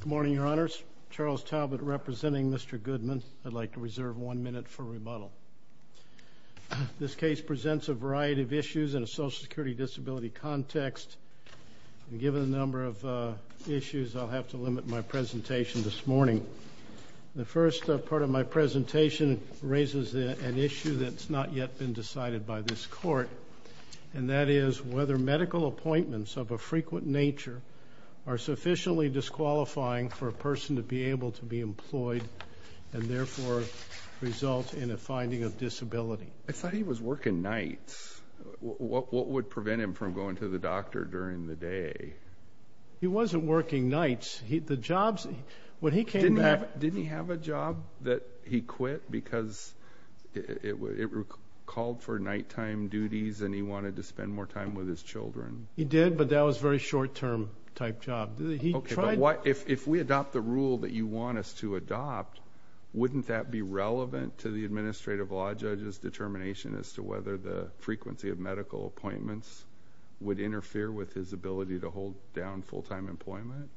Good morning, your honors. Charles Talbot representing Mr. Goodman. I'd like to reserve one minute for rebuttal. This case presents a variety of issues in a social security disability context. Given the number of issues, I'll have to limit my presentation this morning. The first part of my presentation raises an issue that's not yet been decided by this court, and that is whether medical appointments of a frequent nature are sufficiently disqualifying for a person to be able to be employed and therefore result in a finding of disability. I thought he was working nights. What would prevent him from going to the doctor during the day? He wasn't working nights. Didn't he have a job that he quit because it called for nighttime duties and he wanted to spend more time with his children? He did, but that was a very short-term type job. If we adopt the rule that you want us to adopt, wouldn't that be relevant to the administrative law judge's determination as to whether the frequency of medical appointments would interfere with his ability to hold down full-time employment?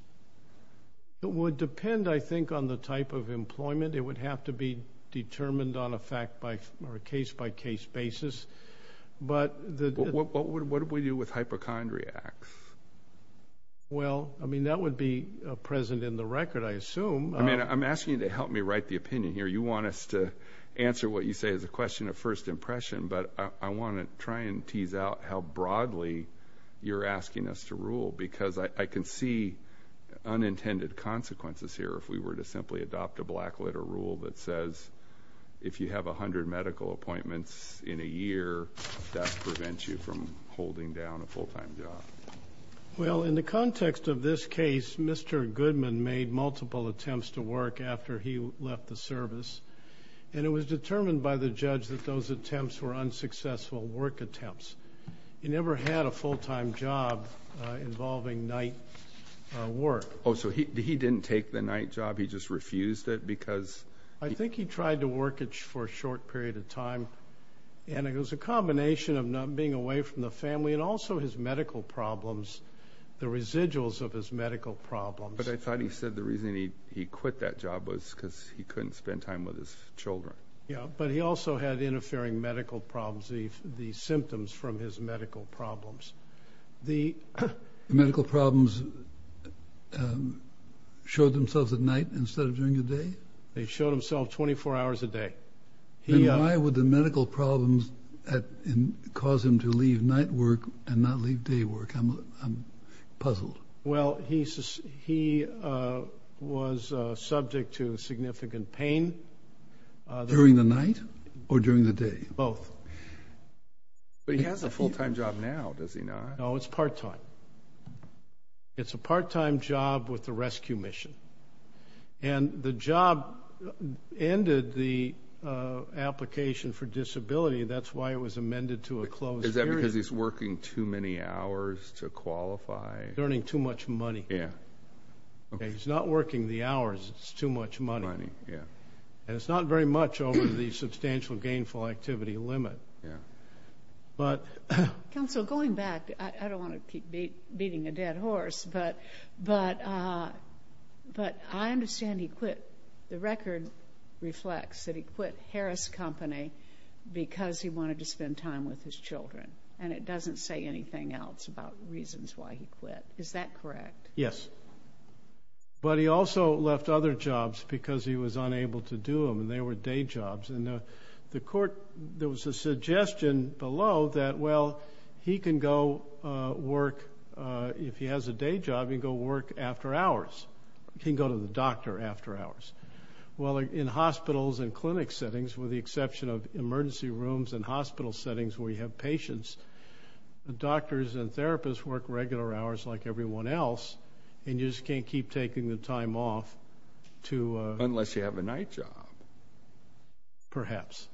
It would depend, I think, on the type of employment. It would have to be determined on a case-by-case basis. What would we do with hypochondriacs? Well, that would be present in the record, I assume. I'm asking you to help me write the opinion here. You want us to answer what you say as a question of first impression, but I want to try and tease out how broadly you're asking us to rule because I can see unintended consequences here if we were to simply adopt a black-letter rule that says if you have 100 medical appointments in a year, that prevents you from holding down a full-time job. Well, in the context of this case, Mr. Goodman made multiple attempts to work after he left the service, and it was determined by the judge that those attempts were unsuccessful work attempts. He never had a full-time job involving night work. Oh, so he didn't take the night job, he just refused it because... I think he tried to work for a short period of time, and it was a combination of not being away from the family and also his medical problems, the residuals of his medical problems. But I thought he said the reason he quit that job was because he couldn't spend time with his children. Yeah, but he also had interfering medical problems, the symptoms from his medical problems. The medical problems showed themselves at night instead of during the day? They showed themselves 24 hours a day. And why would the medical problems cause him to leave night work and not leave day work? I'm puzzled. Well, he was subject to significant pain. During the night or during the day? Both. But he has a full-time job now, does he not? No, it's part-time. It's a part-time job with the rescue mission. And the job ended the application for disability. That's why it was amended to a closed period. Is that because he's working too many hours to qualify? Earning too much money. He's not working the hours, it's too much money. And it's not very much over the substantial gainful activity limit. Counsel, going back, I don't want to keep beating a dead horse, but I understand he quit. The record reflects that he quit Harris Company because he wanted to spend time with his children, and it doesn't say anything else about reasons why he quit. Is that correct? Yes. But he also left other jobs because he was unable to do them, and they were day jobs. And the court, there was a suggestion below that, well, he can go work. If he has a day job, he can go work after hours. He can go to the doctor after hours. Well, in hospitals and clinic settings, with the exception of emergency rooms and hospital settings where you have patients, the doctors and therapists work regular hours like everyone else, and you just can't keep taking the time off. Unless you have a night job. Perhaps.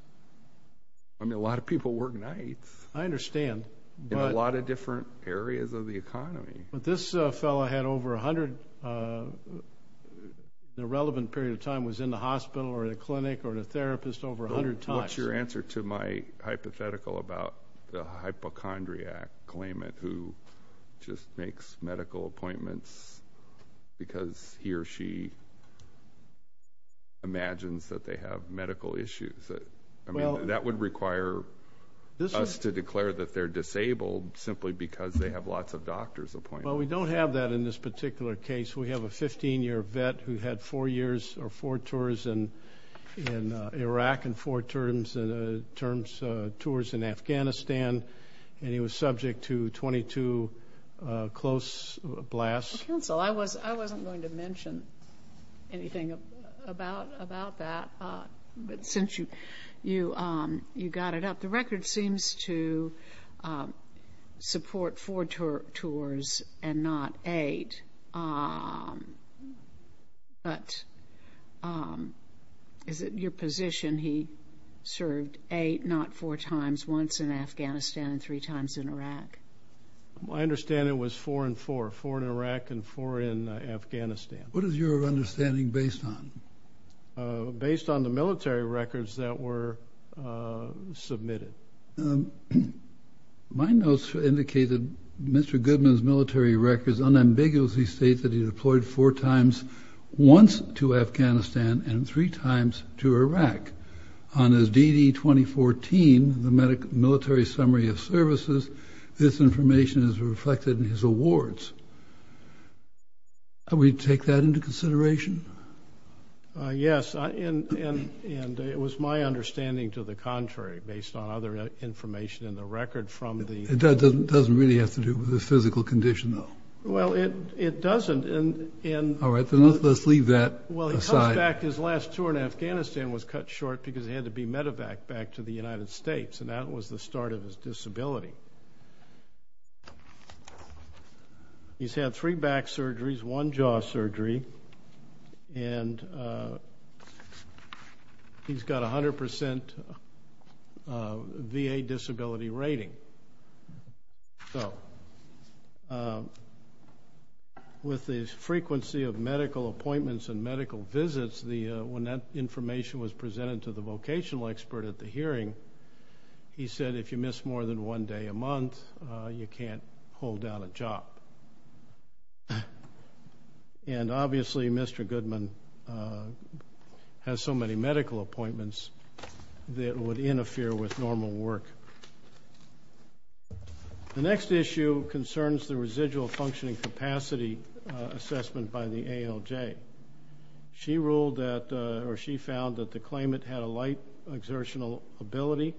I mean, a lot of people work nights. I understand. In a lot of different areas of the economy. But this fellow had over 100, the relevant period of time was in the hospital or the clinic or the therapist over 100 times. What's your answer to my hypothetical about the hypochondriac claimant who just makes medical appointments because he or she imagines that they have medical issues? I mean, that would require us to declare that they're disabled simply because they have lots of doctors appointed. Well, we don't have that in this particular case. We have a 15-year vet who had four years or four tours in Iraq and four tours in Afghanistan, and he was subject to 22 close blasts. Counsel, I wasn't going to mention anything about that. But since you got it up, the record seems to support four tours and not eight. But is it your position he served eight, not four times, once in Afghanistan and three times in Iraq? My understanding was four and four, four in Iraq and four in Afghanistan. What is your understanding based on? Based on the military records that were submitted. My notes indicate that Mr. Goodman's military records unambiguously state that he deployed four times once to Afghanistan and three times to Iraq. On his DD-2014, the Military Summary of Services, this information is reflected in his awards. Are we to take that into consideration? Yes, and it was my understanding to the contrary, based on other information in the record from the- It doesn't really have to do with his physical condition, though. Well, it doesn't, and- All right, then let's leave that aside. Well, he comes back. His last tour in Afghanistan was cut short because he had to be medevaced back to the United States, and that was the start of his disability. He's had three back surgeries, one jaw surgery, and he's got a 100% VA disability rating. So with the frequency of medical appointments and medical visits, when that information was presented to the vocational expert at the hearing, he said if you miss more than one day a month, you can't hold down a job. And obviously Mr. Goodman has so many medical appointments that it would interfere with normal work. The next issue concerns the residual functioning capacity assessment by the ALJ. She ruled that, or she found that the claimant had a light exertional ability,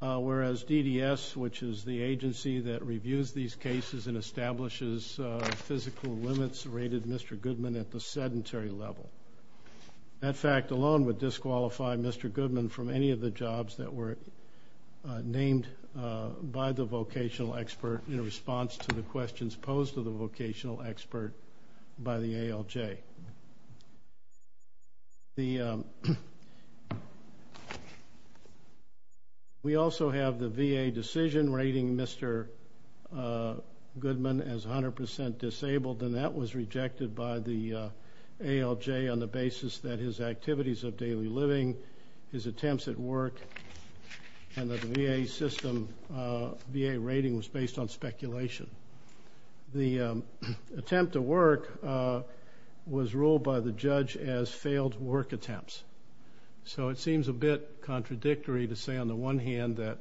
whereas DDS, which is the agency that reviews these cases and establishes physical limits rated Mr. Goodman at the sedentary level. That fact alone would disqualify Mr. Goodman from any of the jobs that were named by the vocational expert in response to the questions posed to the vocational expert by the ALJ. We also have the VA decision rating Mr. Goodman as 100% disabled, and that was rejected by the ALJ on the basis that his activities of daily living, his attempts at work, and that the VA system, VA rating was based on speculation. The attempt at work was ruled by the judge as failed work attempts. So it seems a bit contradictory to say on the one hand that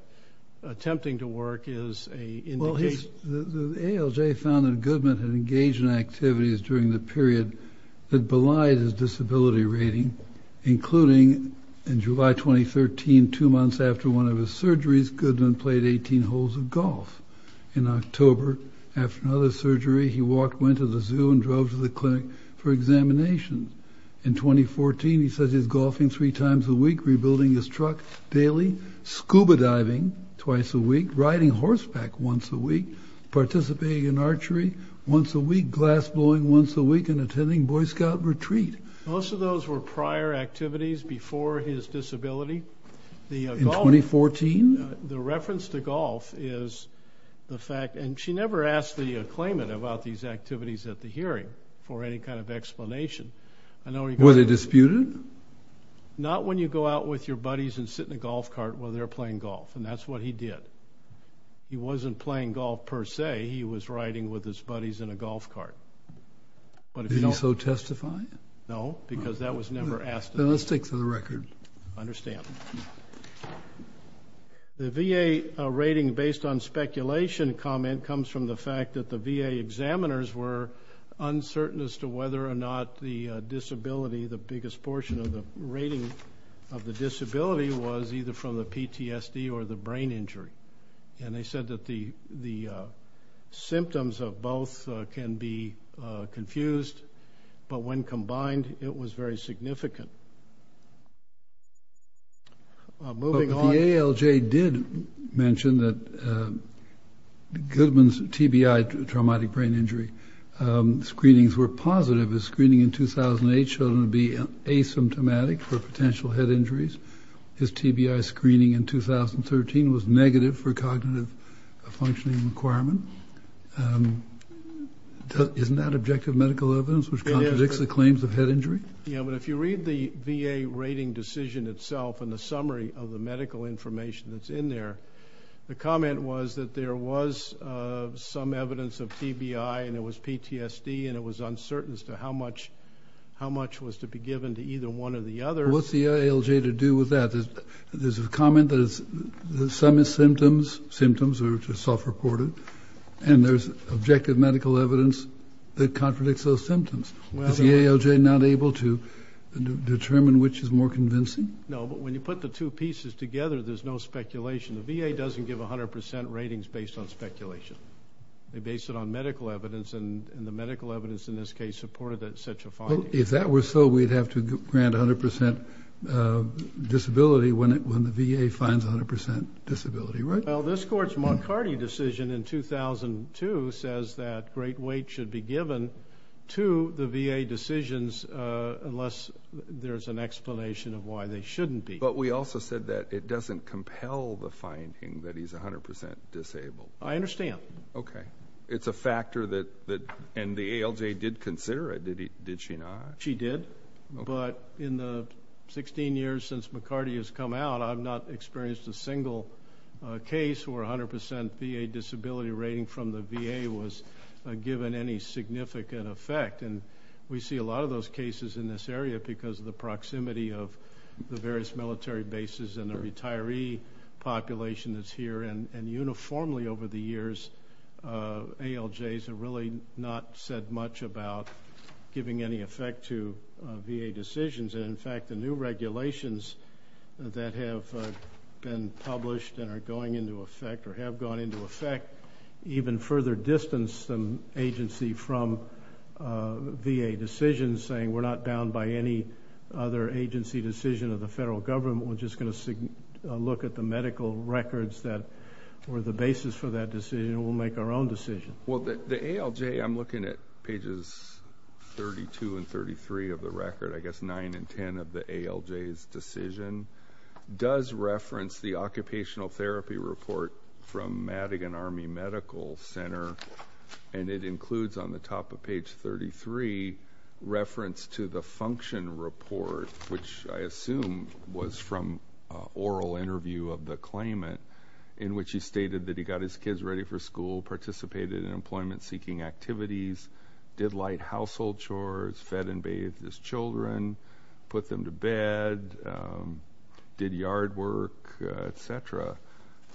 attempting to work is a indication. The ALJ found that Goodman had engaged in activities during the period that belied his disability rating, including in July 2013, two months after one of his surgeries, Goodman played 18 holes of golf. In October, after another surgery, he went to the zoo and drove to the clinic for examinations. In 2014, he says he's golfing three times a week, rebuilding his truck daily, scuba diving twice a week, riding horseback once a week, participating in archery once a week, glass blowing once a week, and attending Boy Scout retreat. Most of those were prior activities before his disability. In 2014? The reference to golf is the fact, and she never asked the claimant about these activities at the hearing for any kind of explanation. Were they disputed? Not when you go out with your buddies and sit in a golf cart while they're playing golf, and that's what he did. He wasn't playing golf per se. He was riding with his buddies in a golf cart. Did he so testify? No, because that was never asked. Then let's take to the record. I understand. The VA rating based on speculation comment comes from the fact that the VA examiners were uncertain as to whether or not the disability, the biggest portion of the rating of the disability, was either from the PTSD or the brain injury. And they said that the symptoms of both can be confused, but when combined, it was very significant. Moving on. The ALJ did mention that Goodman's TBI, traumatic brain injury, screenings were positive. His screening in 2008 showed him to be asymptomatic for potential head injuries. His TBI screening in 2013 was negative for cognitive functioning requirement. Isn't that objective medical evidence which contradicts the claims of head injury? Yeah, but if you read the VA rating decision itself and the summary of the medical information that's in there, the comment was that there was some evidence of TBI and it was PTSD and it was uncertain as to how much was to be given to either one or the other. Well, what's the ALJ to do with that? There's a comment that some symptoms are self-reported and there's objective medical evidence that contradicts those symptoms. Is the ALJ not able to determine which is more convincing? No, but when you put the two pieces together, there's no speculation. The VA doesn't give 100% ratings based on speculation. They base it on medical evidence, and the medical evidence in this case supported that such a finding. Well, if that were so, we'd have to grant 100% disability when the VA finds 100% disability, right? Well, this court's Moncardi decision in 2002 says that great weight should be given to the VA decisions unless there's an explanation of why they shouldn't be. But we also said that it doesn't compel the finding that he's 100% disabled. I understand. Okay. It's a factor that, and the ALJ did consider it, did she not? She did, but in the 16 years since Moncardi has come out, I've not experienced a single case where 100% VA disability rating from the VA was given any significant effect. And we see a lot of those cases in this area because of the proximity of the various military bases and the retiree population that's here. And uniformly over the years, ALJs have really not said much about giving any effect to VA decisions. And, in fact, the new regulations that have been published and are going into effect or have gone into effect even further distance the agency from VA decisions, saying we're not bound by any other agency decision of the federal government. We're just going to look at the medical records that were the basis for that decision, and we'll make our own decision. Well, the ALJ, I'm looking at pages 32 and 33 of the record, I guess 9 and 10 of the ALJ's decision, does reference the occupational therapy report from Madigan Army Medical Center, and it includes on the top of page 33 reference to the function report, which I assume was from oral interview of the claimant, in which he stated that he got his kids ready for school, participated in employment-seeking activities, did light household chores, fed and bathed his children, put them to bed, did yard work, et cetera.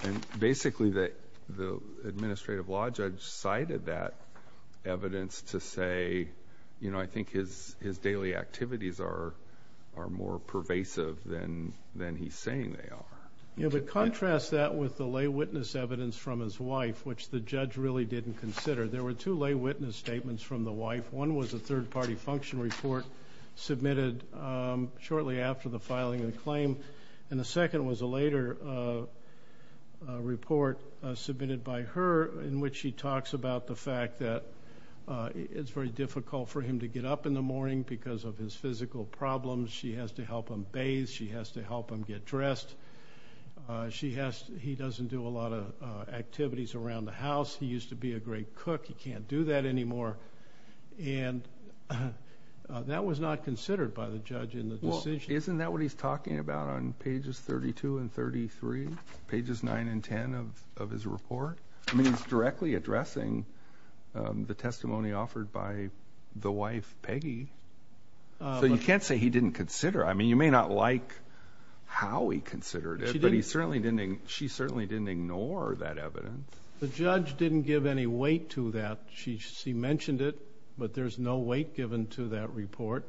And basically the administrative law judge cited that evidence to say, you know, I think his daily activities are more pervasive than he's saying they are. Yeah, but contrast that with the lay witness evidence from his wife, which the judge really didn't consider. There were two lay witness statements from the wife. One was a third-party function report submitted shortly after the filing of the claim, and the second was a later report submitted by her in which she talks about the fact that it's very difficult for him to get up in the morning because of his physical problems. She has to help him bathe. She has to help him get dressed. He doesn't do a lot of activities around the house. He used to be a great cook. He can't do that anymore. And that was not considered by the judge in the decision. Isn't that what he's talking about on pages 32 and 33, pages 9 and 10 of his report? I mean, he's directly addressing the testimony offered by the wife, Peggy. So you can't say he didn't consider it. I mean, you may not like how he considered it, but she certainly didn't ignore that evidence. The judge didn't give any weight to that. She mentioned it, but there's no weight given to that report.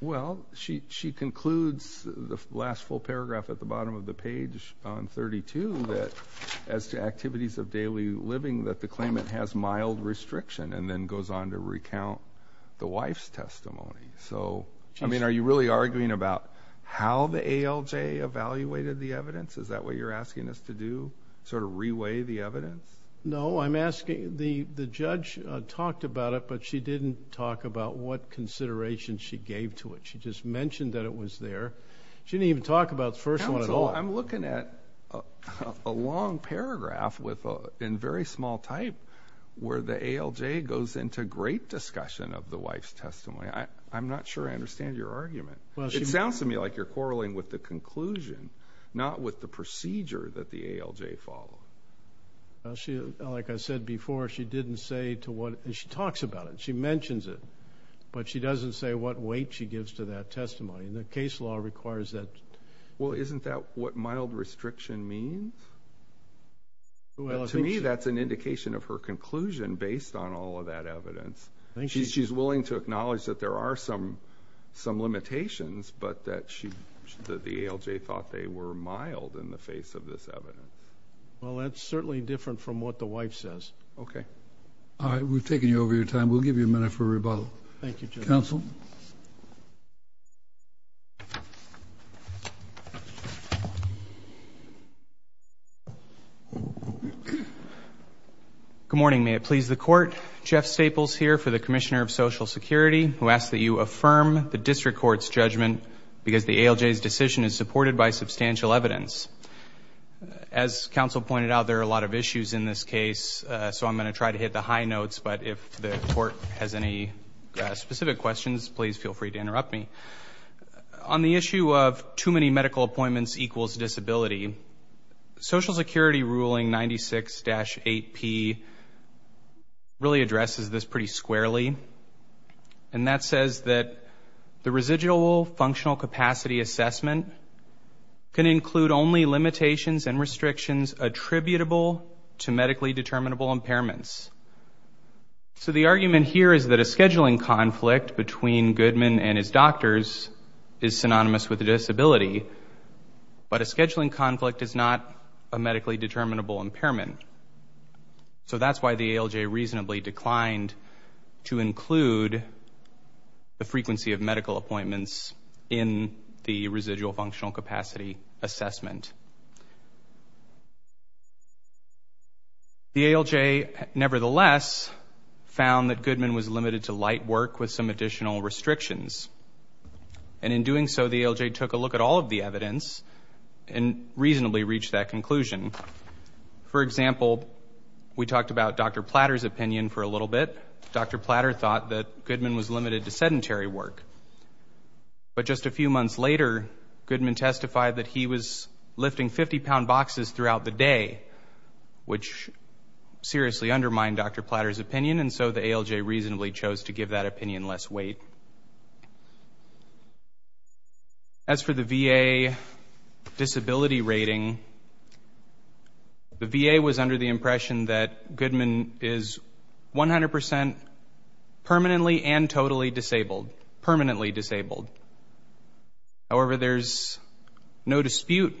Well, she concludes the last full paragraph at the bottom of the page on 32 that, as to activities of daily living, that the claimant has mild restriction and then goes on to recount the wife's testimony. So, I mean, are you really arguing about how the ALJ evaluated the evidence? Is that what you're asking us to do, sort of re-weigh the evidence? No, I'm asking the judge talked about it, but she didn't talk about what consideration she gave to it. She just mentioned that it was there. She didn't even talk about the first one at all. Counsel, I'm looking at a long paragraph in very small type where the ALJ goes into great discussion of the wife's testimony. I'm not sure I understand your argument. It sounds to me like you're quarreling with the conclusion, not with the procedure that the ALJ followed. Like I said before, she didn't say to what, and she talks about it, she mentions it, but she doesn't say what weight she gives to that testimony. The case law requires that. Well, isn't that what mild restriction means? To me, that's an indication of her conclusion based on all of that evidence. She's willing to acknowledge that there are some limitations, but that the ALJ thought they were mild in the face of this evidence. Well, that's certainly different from what the wife says. Okay. All right. We've taken you over your time. We'll give you a minute for rebuttal. Thank you, Judge. Counsel. Good morning. May it please the Court, Jeff Staples here for the Commissioner of Social Security, who asks that you affirm the district court's judgment because the ALJ's decision is supported by substantial evidence. As counsel pointed out, there are a lot of issues in this case, so I'm going to try to hit the high notes, but if the court has any specific questions, please feel free to interrupt me. On the issue of too many medical appointments equals disability, Social Security ruling 96-8P really addresses this pretty squarely, and that says that the residual functional capacity assessment can include only limitations and restrictions attributable to medically determinable impairments. So the argument here is that a scheduling conflict between Goodman and his doctors is synonymous with a disability, but a scheduling conflict is not a medically determinable impairment. So that's why the ALJ reasonably declined to include the frequency of medical appointments in the residual functional capacity assessment. The ALJ, nevertheless, found that Goodman was limited to light work with some additional restrictions, and in doing so, the ALJ took a look at all of the evidence and reasonably reached that conclusion. For example, we talked about Dr. Platter's opinion for a little bit. Dr. Platter thought that Goodman was limited to sedentary work, but just a few months later, Goodman testified that he was lifting 50-pound boxes throughout the day, which seriously undermined Dr. Platter's opinion, and so the ALJ reasonably chose to give that opinion less weight. As for the VA disability rating, the VA was under the impression that Goodman is 100% permanently and totally disabled, permanently disabled. However, there's no dispute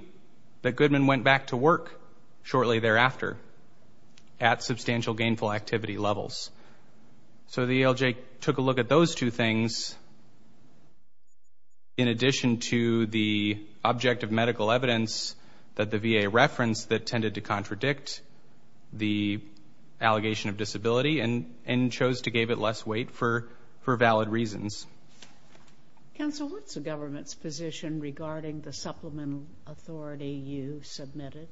that Goodman went back to work shortly thereafter at substantial gainful activity levels. So the ALJ took a look at those two things, in addition to the objective medical evidence that the VA referenced that tended to contradict the allegation of disability, and chose to give it less weight for valid reasons. Counsel, what's the government's position regarding the supplemental authority you submitted?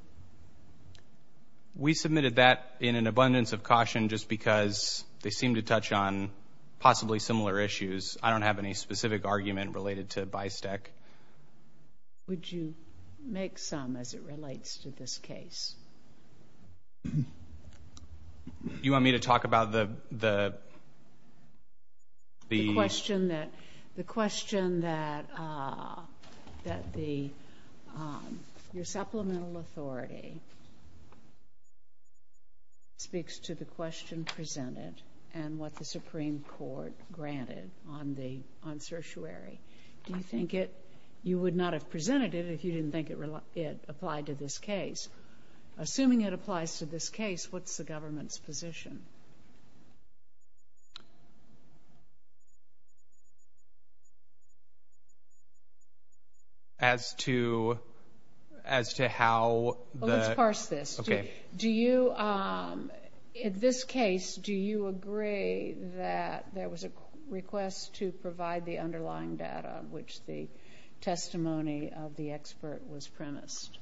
We submitted that in an abundance of caution just because they seem to touch on possibly similar issues. I don't have any specific argument related to BISTEC. Would you make some as it relates to this case? You want me to talk about the... The question that your supplemental authority speaks to the question presented and what the Supreme Court granted on certiorari. Do you think it, you would not have presented it if you didn't think it applied to this case. Assuming it applies to this case, what's the government's position? As to how the... Well, let's parse this. Okay. Do you, in this case, do you agree that there was a request to provide the underlying data which the testimony of the expert was premised?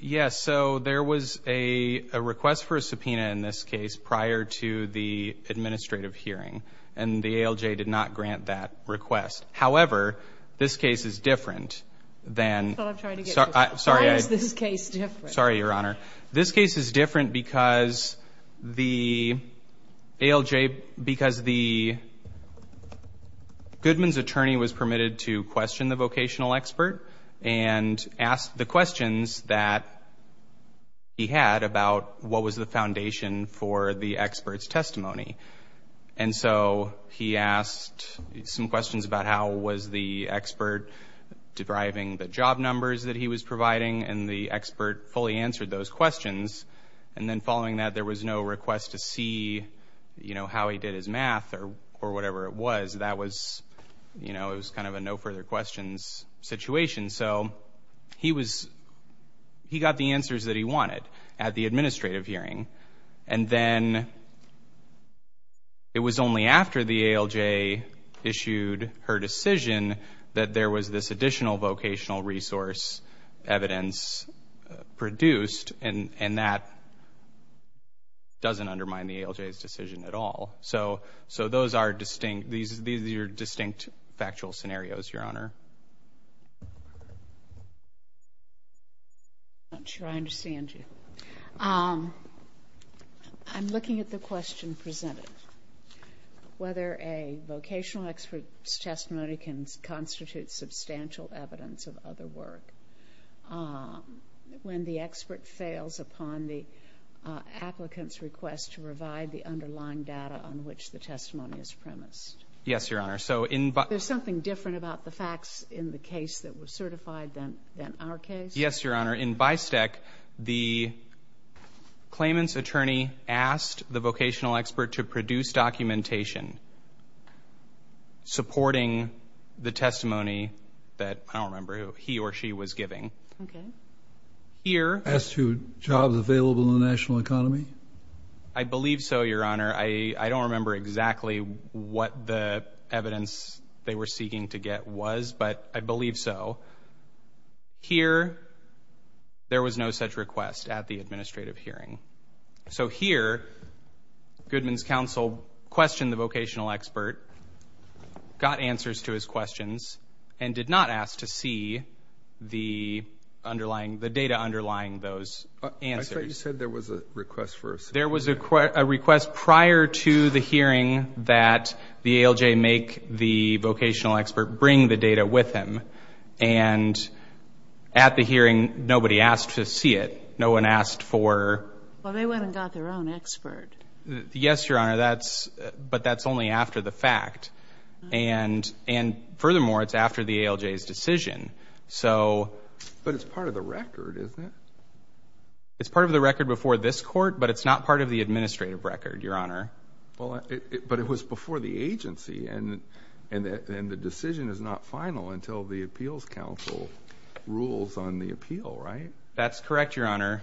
Yes. So there was a request for a subpoena in this case prior to the administrative hearing, and the ALJ did not grant that request. However, this case is different than... That's what I'm trying to get to. Sorry. Why is this case different? Sorry, Your Honor. This case is different because the ALJ, because the Goodman's attorney was permitted to question the vocational expert and ask the questions that he had about what was the foundation for the expert's testimony. And so he asked some questions about how was the expert deriving the job numbers that he was providing, and the expert fully answered those questions. And then following that, there was no request to see, you know, how he did his math or whatever it was. That was, you know, it was kind of a no-further-questions situation. So he got the answers that he wanted at the administrative hearing. And then it was only after the ALJ issued her decision that there was this additional vocational resource evidence produced, and that doesn't undermine the ALJ's decision at all. So those are distinct factual scenarios, Your Honor. I'm not sure I understand you. I'm looking at the question presented. Whether a vocational expert's testimony can constitute substantial evidence of other work when the expert fails upon the applicant's request to provide the underlying data on which the testimony is premised. Yes, Your Honor. There's something different about the facts in the case that was certified than our case? Yes, Your Honor. In Bystec, the claimant's attorney asked the vocational expert to produce documentation supporting the testimony that I don't remember he or she was giving. Okay. Here. As to jobs available in the national economy? I believe so, Your Honor. I don't remember exactly what the evidence they were seeking to get was, but I believe so. Here, there was no such request at the administrative hearing. So here, Goodman's counsel questioned the vocational expert, got answers to his questions, and did not ask to see the underlying, the data underlying those answers. I thought you said there was a request for assessment. There was a request prior to the hearing that the ALJ make the vocational expert bring the data with him. And at the hearing, nobody asked to see it. No one asked for... Well, they went and got their own expert. Yes, Your Honor. But that's only after the fact. And furthermore, it's after the ALJ's decision. But it's part of the record, isn't it? It's part of the record before this Court, but it's not part of the administrative record, Your Honor. But it was before the agency, and the decision is not final until the appeals counsel rules on the appeal, right? That's correct, Your Honor.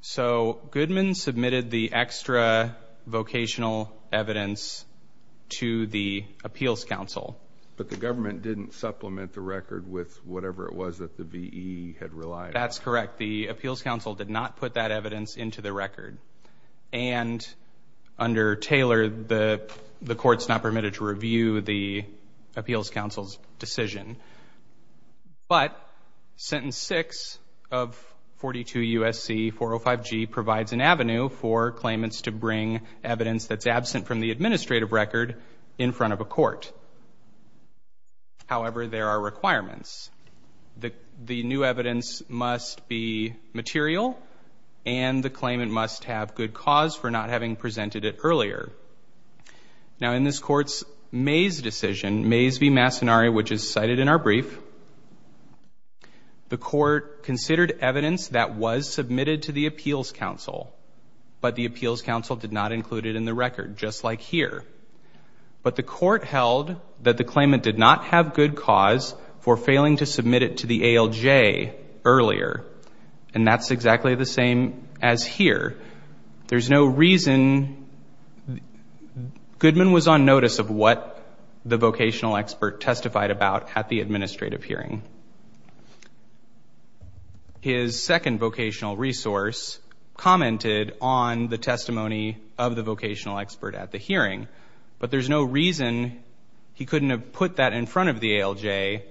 So Goodman submitted the extra vocational evidence to the appeals counsel. But the government didn't supplement the record with whatever it was that the V.E. had relied on. That's correct. The appeals counsel did not put that evidence into the record. And under Taylor, the Court's not permitted to review the appeals counsel's decision. But Sentence 6 of 42 U.S.C. 405G provides an avenue for claimants to bring evidence that's absent from the administrative record in front of a court. However, there are requirements. The new evidence must be material, and the claimant must have good cause for not having presented it earlier. Now, in this Court's Mays decision, which is cited in our brief, the Court considered evidence that was submitted to the appeals counsel, but the appeals counsel did not include it in the record, just like here. But the Court held that the claimant did not have good cause for failing to submit it to the ALJ earlier, and that's exactly the same as here. There's no reason. Goodman was on notice of what the vocational expert testified about at the administrative hearing. His second vocational resource commented on the testimony of the vocational expert at the hearing, but there's no reason he couldn't have put that in front of the ALJ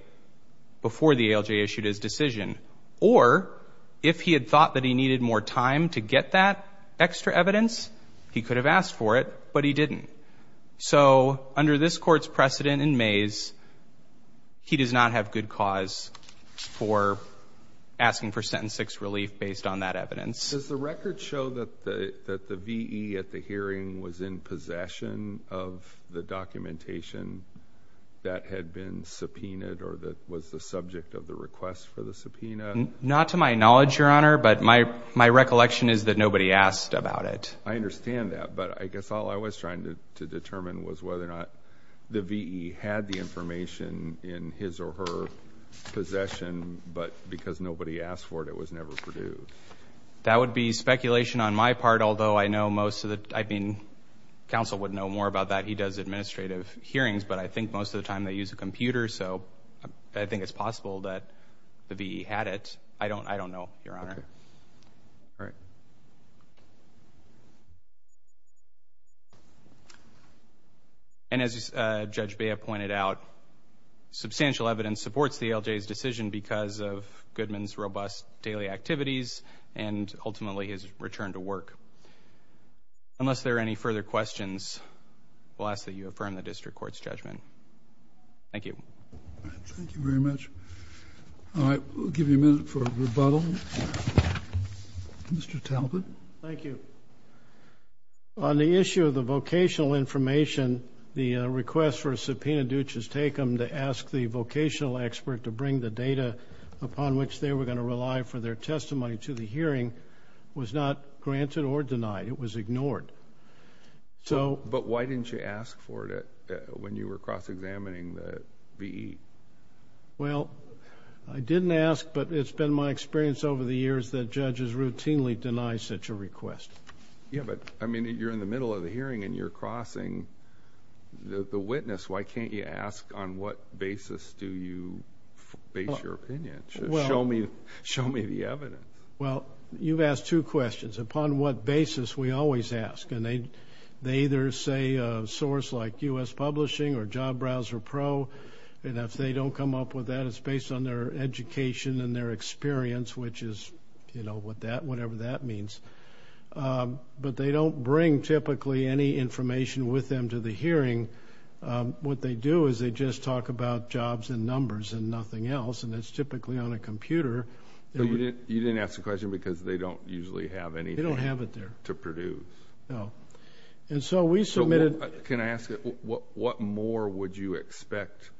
before the ALJ issued his decision. Or, if he had thought that he needed more time to get that extra evidence, he could have asked for it, but he didn't. So under this Court's precedent in Mays, he does not have good cause for asking for sentence 6 relief based on that evidence. Does the record show that the V.E. at the hearing was in possession of the documentation that had been subpoenaed or that was the subject of the request for the subpoena? Not to my knowledge, Your Honor, but my recollection is that nobody asked about it. I understand that, but I guess all I was trying to determine was whether or not the V.E. had the information in his or her possession, but because nobody asked for it, it was never produced. That would be speculation on my part, although I know most of the – I mean, counsel would know more about that. He does administrative hearings, but I think most of the time they use a computer, so I think it's possible that the V.E. had it. I don't know, Your Honor. All right. And as Judge Bea pointed out, substantial evidence supports the LJ's decision because of Goodman's robust daily activities and ultimately his return to work. Unless there are any further questions, I will ask that you affirm the district court's judgment. Thank you. Thank you very much. All right. We'll give you a minute for rebuttal. Mr. Talbot. Thank you. On the issue of the vocational information, the request for a subpoena due to take them to ask the vocational expert to bring the data upon which they were going to rely for their testimony to the hearing was not granted or denied. It was ignored. But why didn't you ask for it when you were cross-examining the V.E.? Well, I didn't ask, but it's been my experience over the years that judges routinely deny such a request. Yeah, but, I mean, you're in the middle of the hearing and you're crossing the witness. Why can't you ask on what basis do you base your opinion? Show me the evidence. Well, you've asked two questions. Upon what basis we always ask, and they either say a source like U.S. Publishing or Job Browser Pro, and if they don't come up with that, it's based on their education and their experience, which is, you know, whatever that means. But they don't bring typically any information with them to the hearing. What they do is they just talk about jobs and numbers and nothing else, and it's typically on a computer. You didn't ask the question because they don't usually have anything to produce. They don't have it there. No. And so we submitted. Can I ask, what more would you expect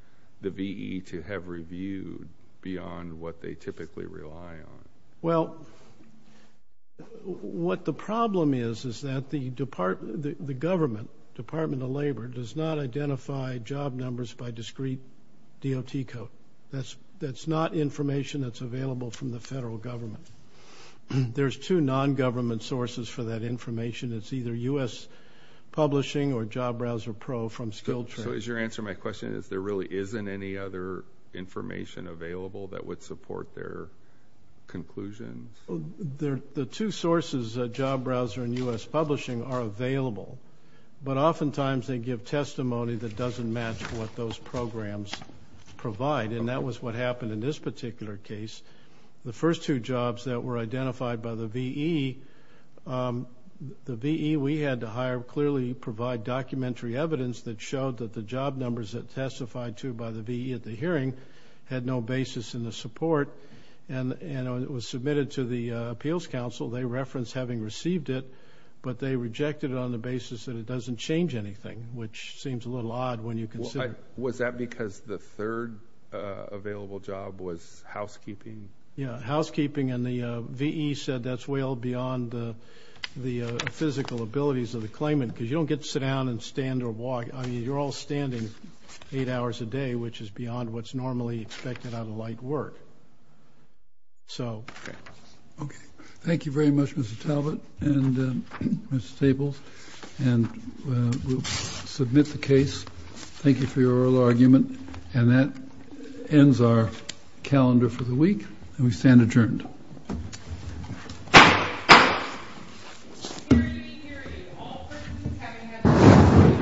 the V.E. to have reviewed beyond what they typically rely on? Well, what the problem is is that the government, Department of Labor, does not identify job numbers by discrete DOT code. That's not information that's available from the federal government. There's two non-government sources for that information. It's either U.S. Publishing or Job Browser Pro from skilled trainers. So is your answer to my question is there really isn't any other information available that would support their conclusions? The two sources, Job Browser and U.S. Publishing, are available, but oftentimes they give testimony that doesn't match what those programs provide, and that was what happened in this particular case. The first two jobs that were identified by the V.E., the V.E. we had to hire clearly provide documentary evidence that showed that the job numbers that testified to by the V.E. at the hearing had no basis in the support, and it was submitted to the Appeals Council. They referenced having received it, but they rejected it on the basis that it doesn't change anything, which seems a little odd when you consider. Was that because the third available job was housekeeping? Yeah, housekeeping, and the V.E. said that's way beyond the physical abilities of the claimant because you don't get to sit down and stand or walk. I mean, you're all standing eight hours a day, which is beyond what's normally expected out of light work. Okay. Thank you very much, Mr. Talbot and Mr. Stables, and we'll submit the case. Thank you for your oral argument, and that ends our calendar for the week, and we stand adjourned.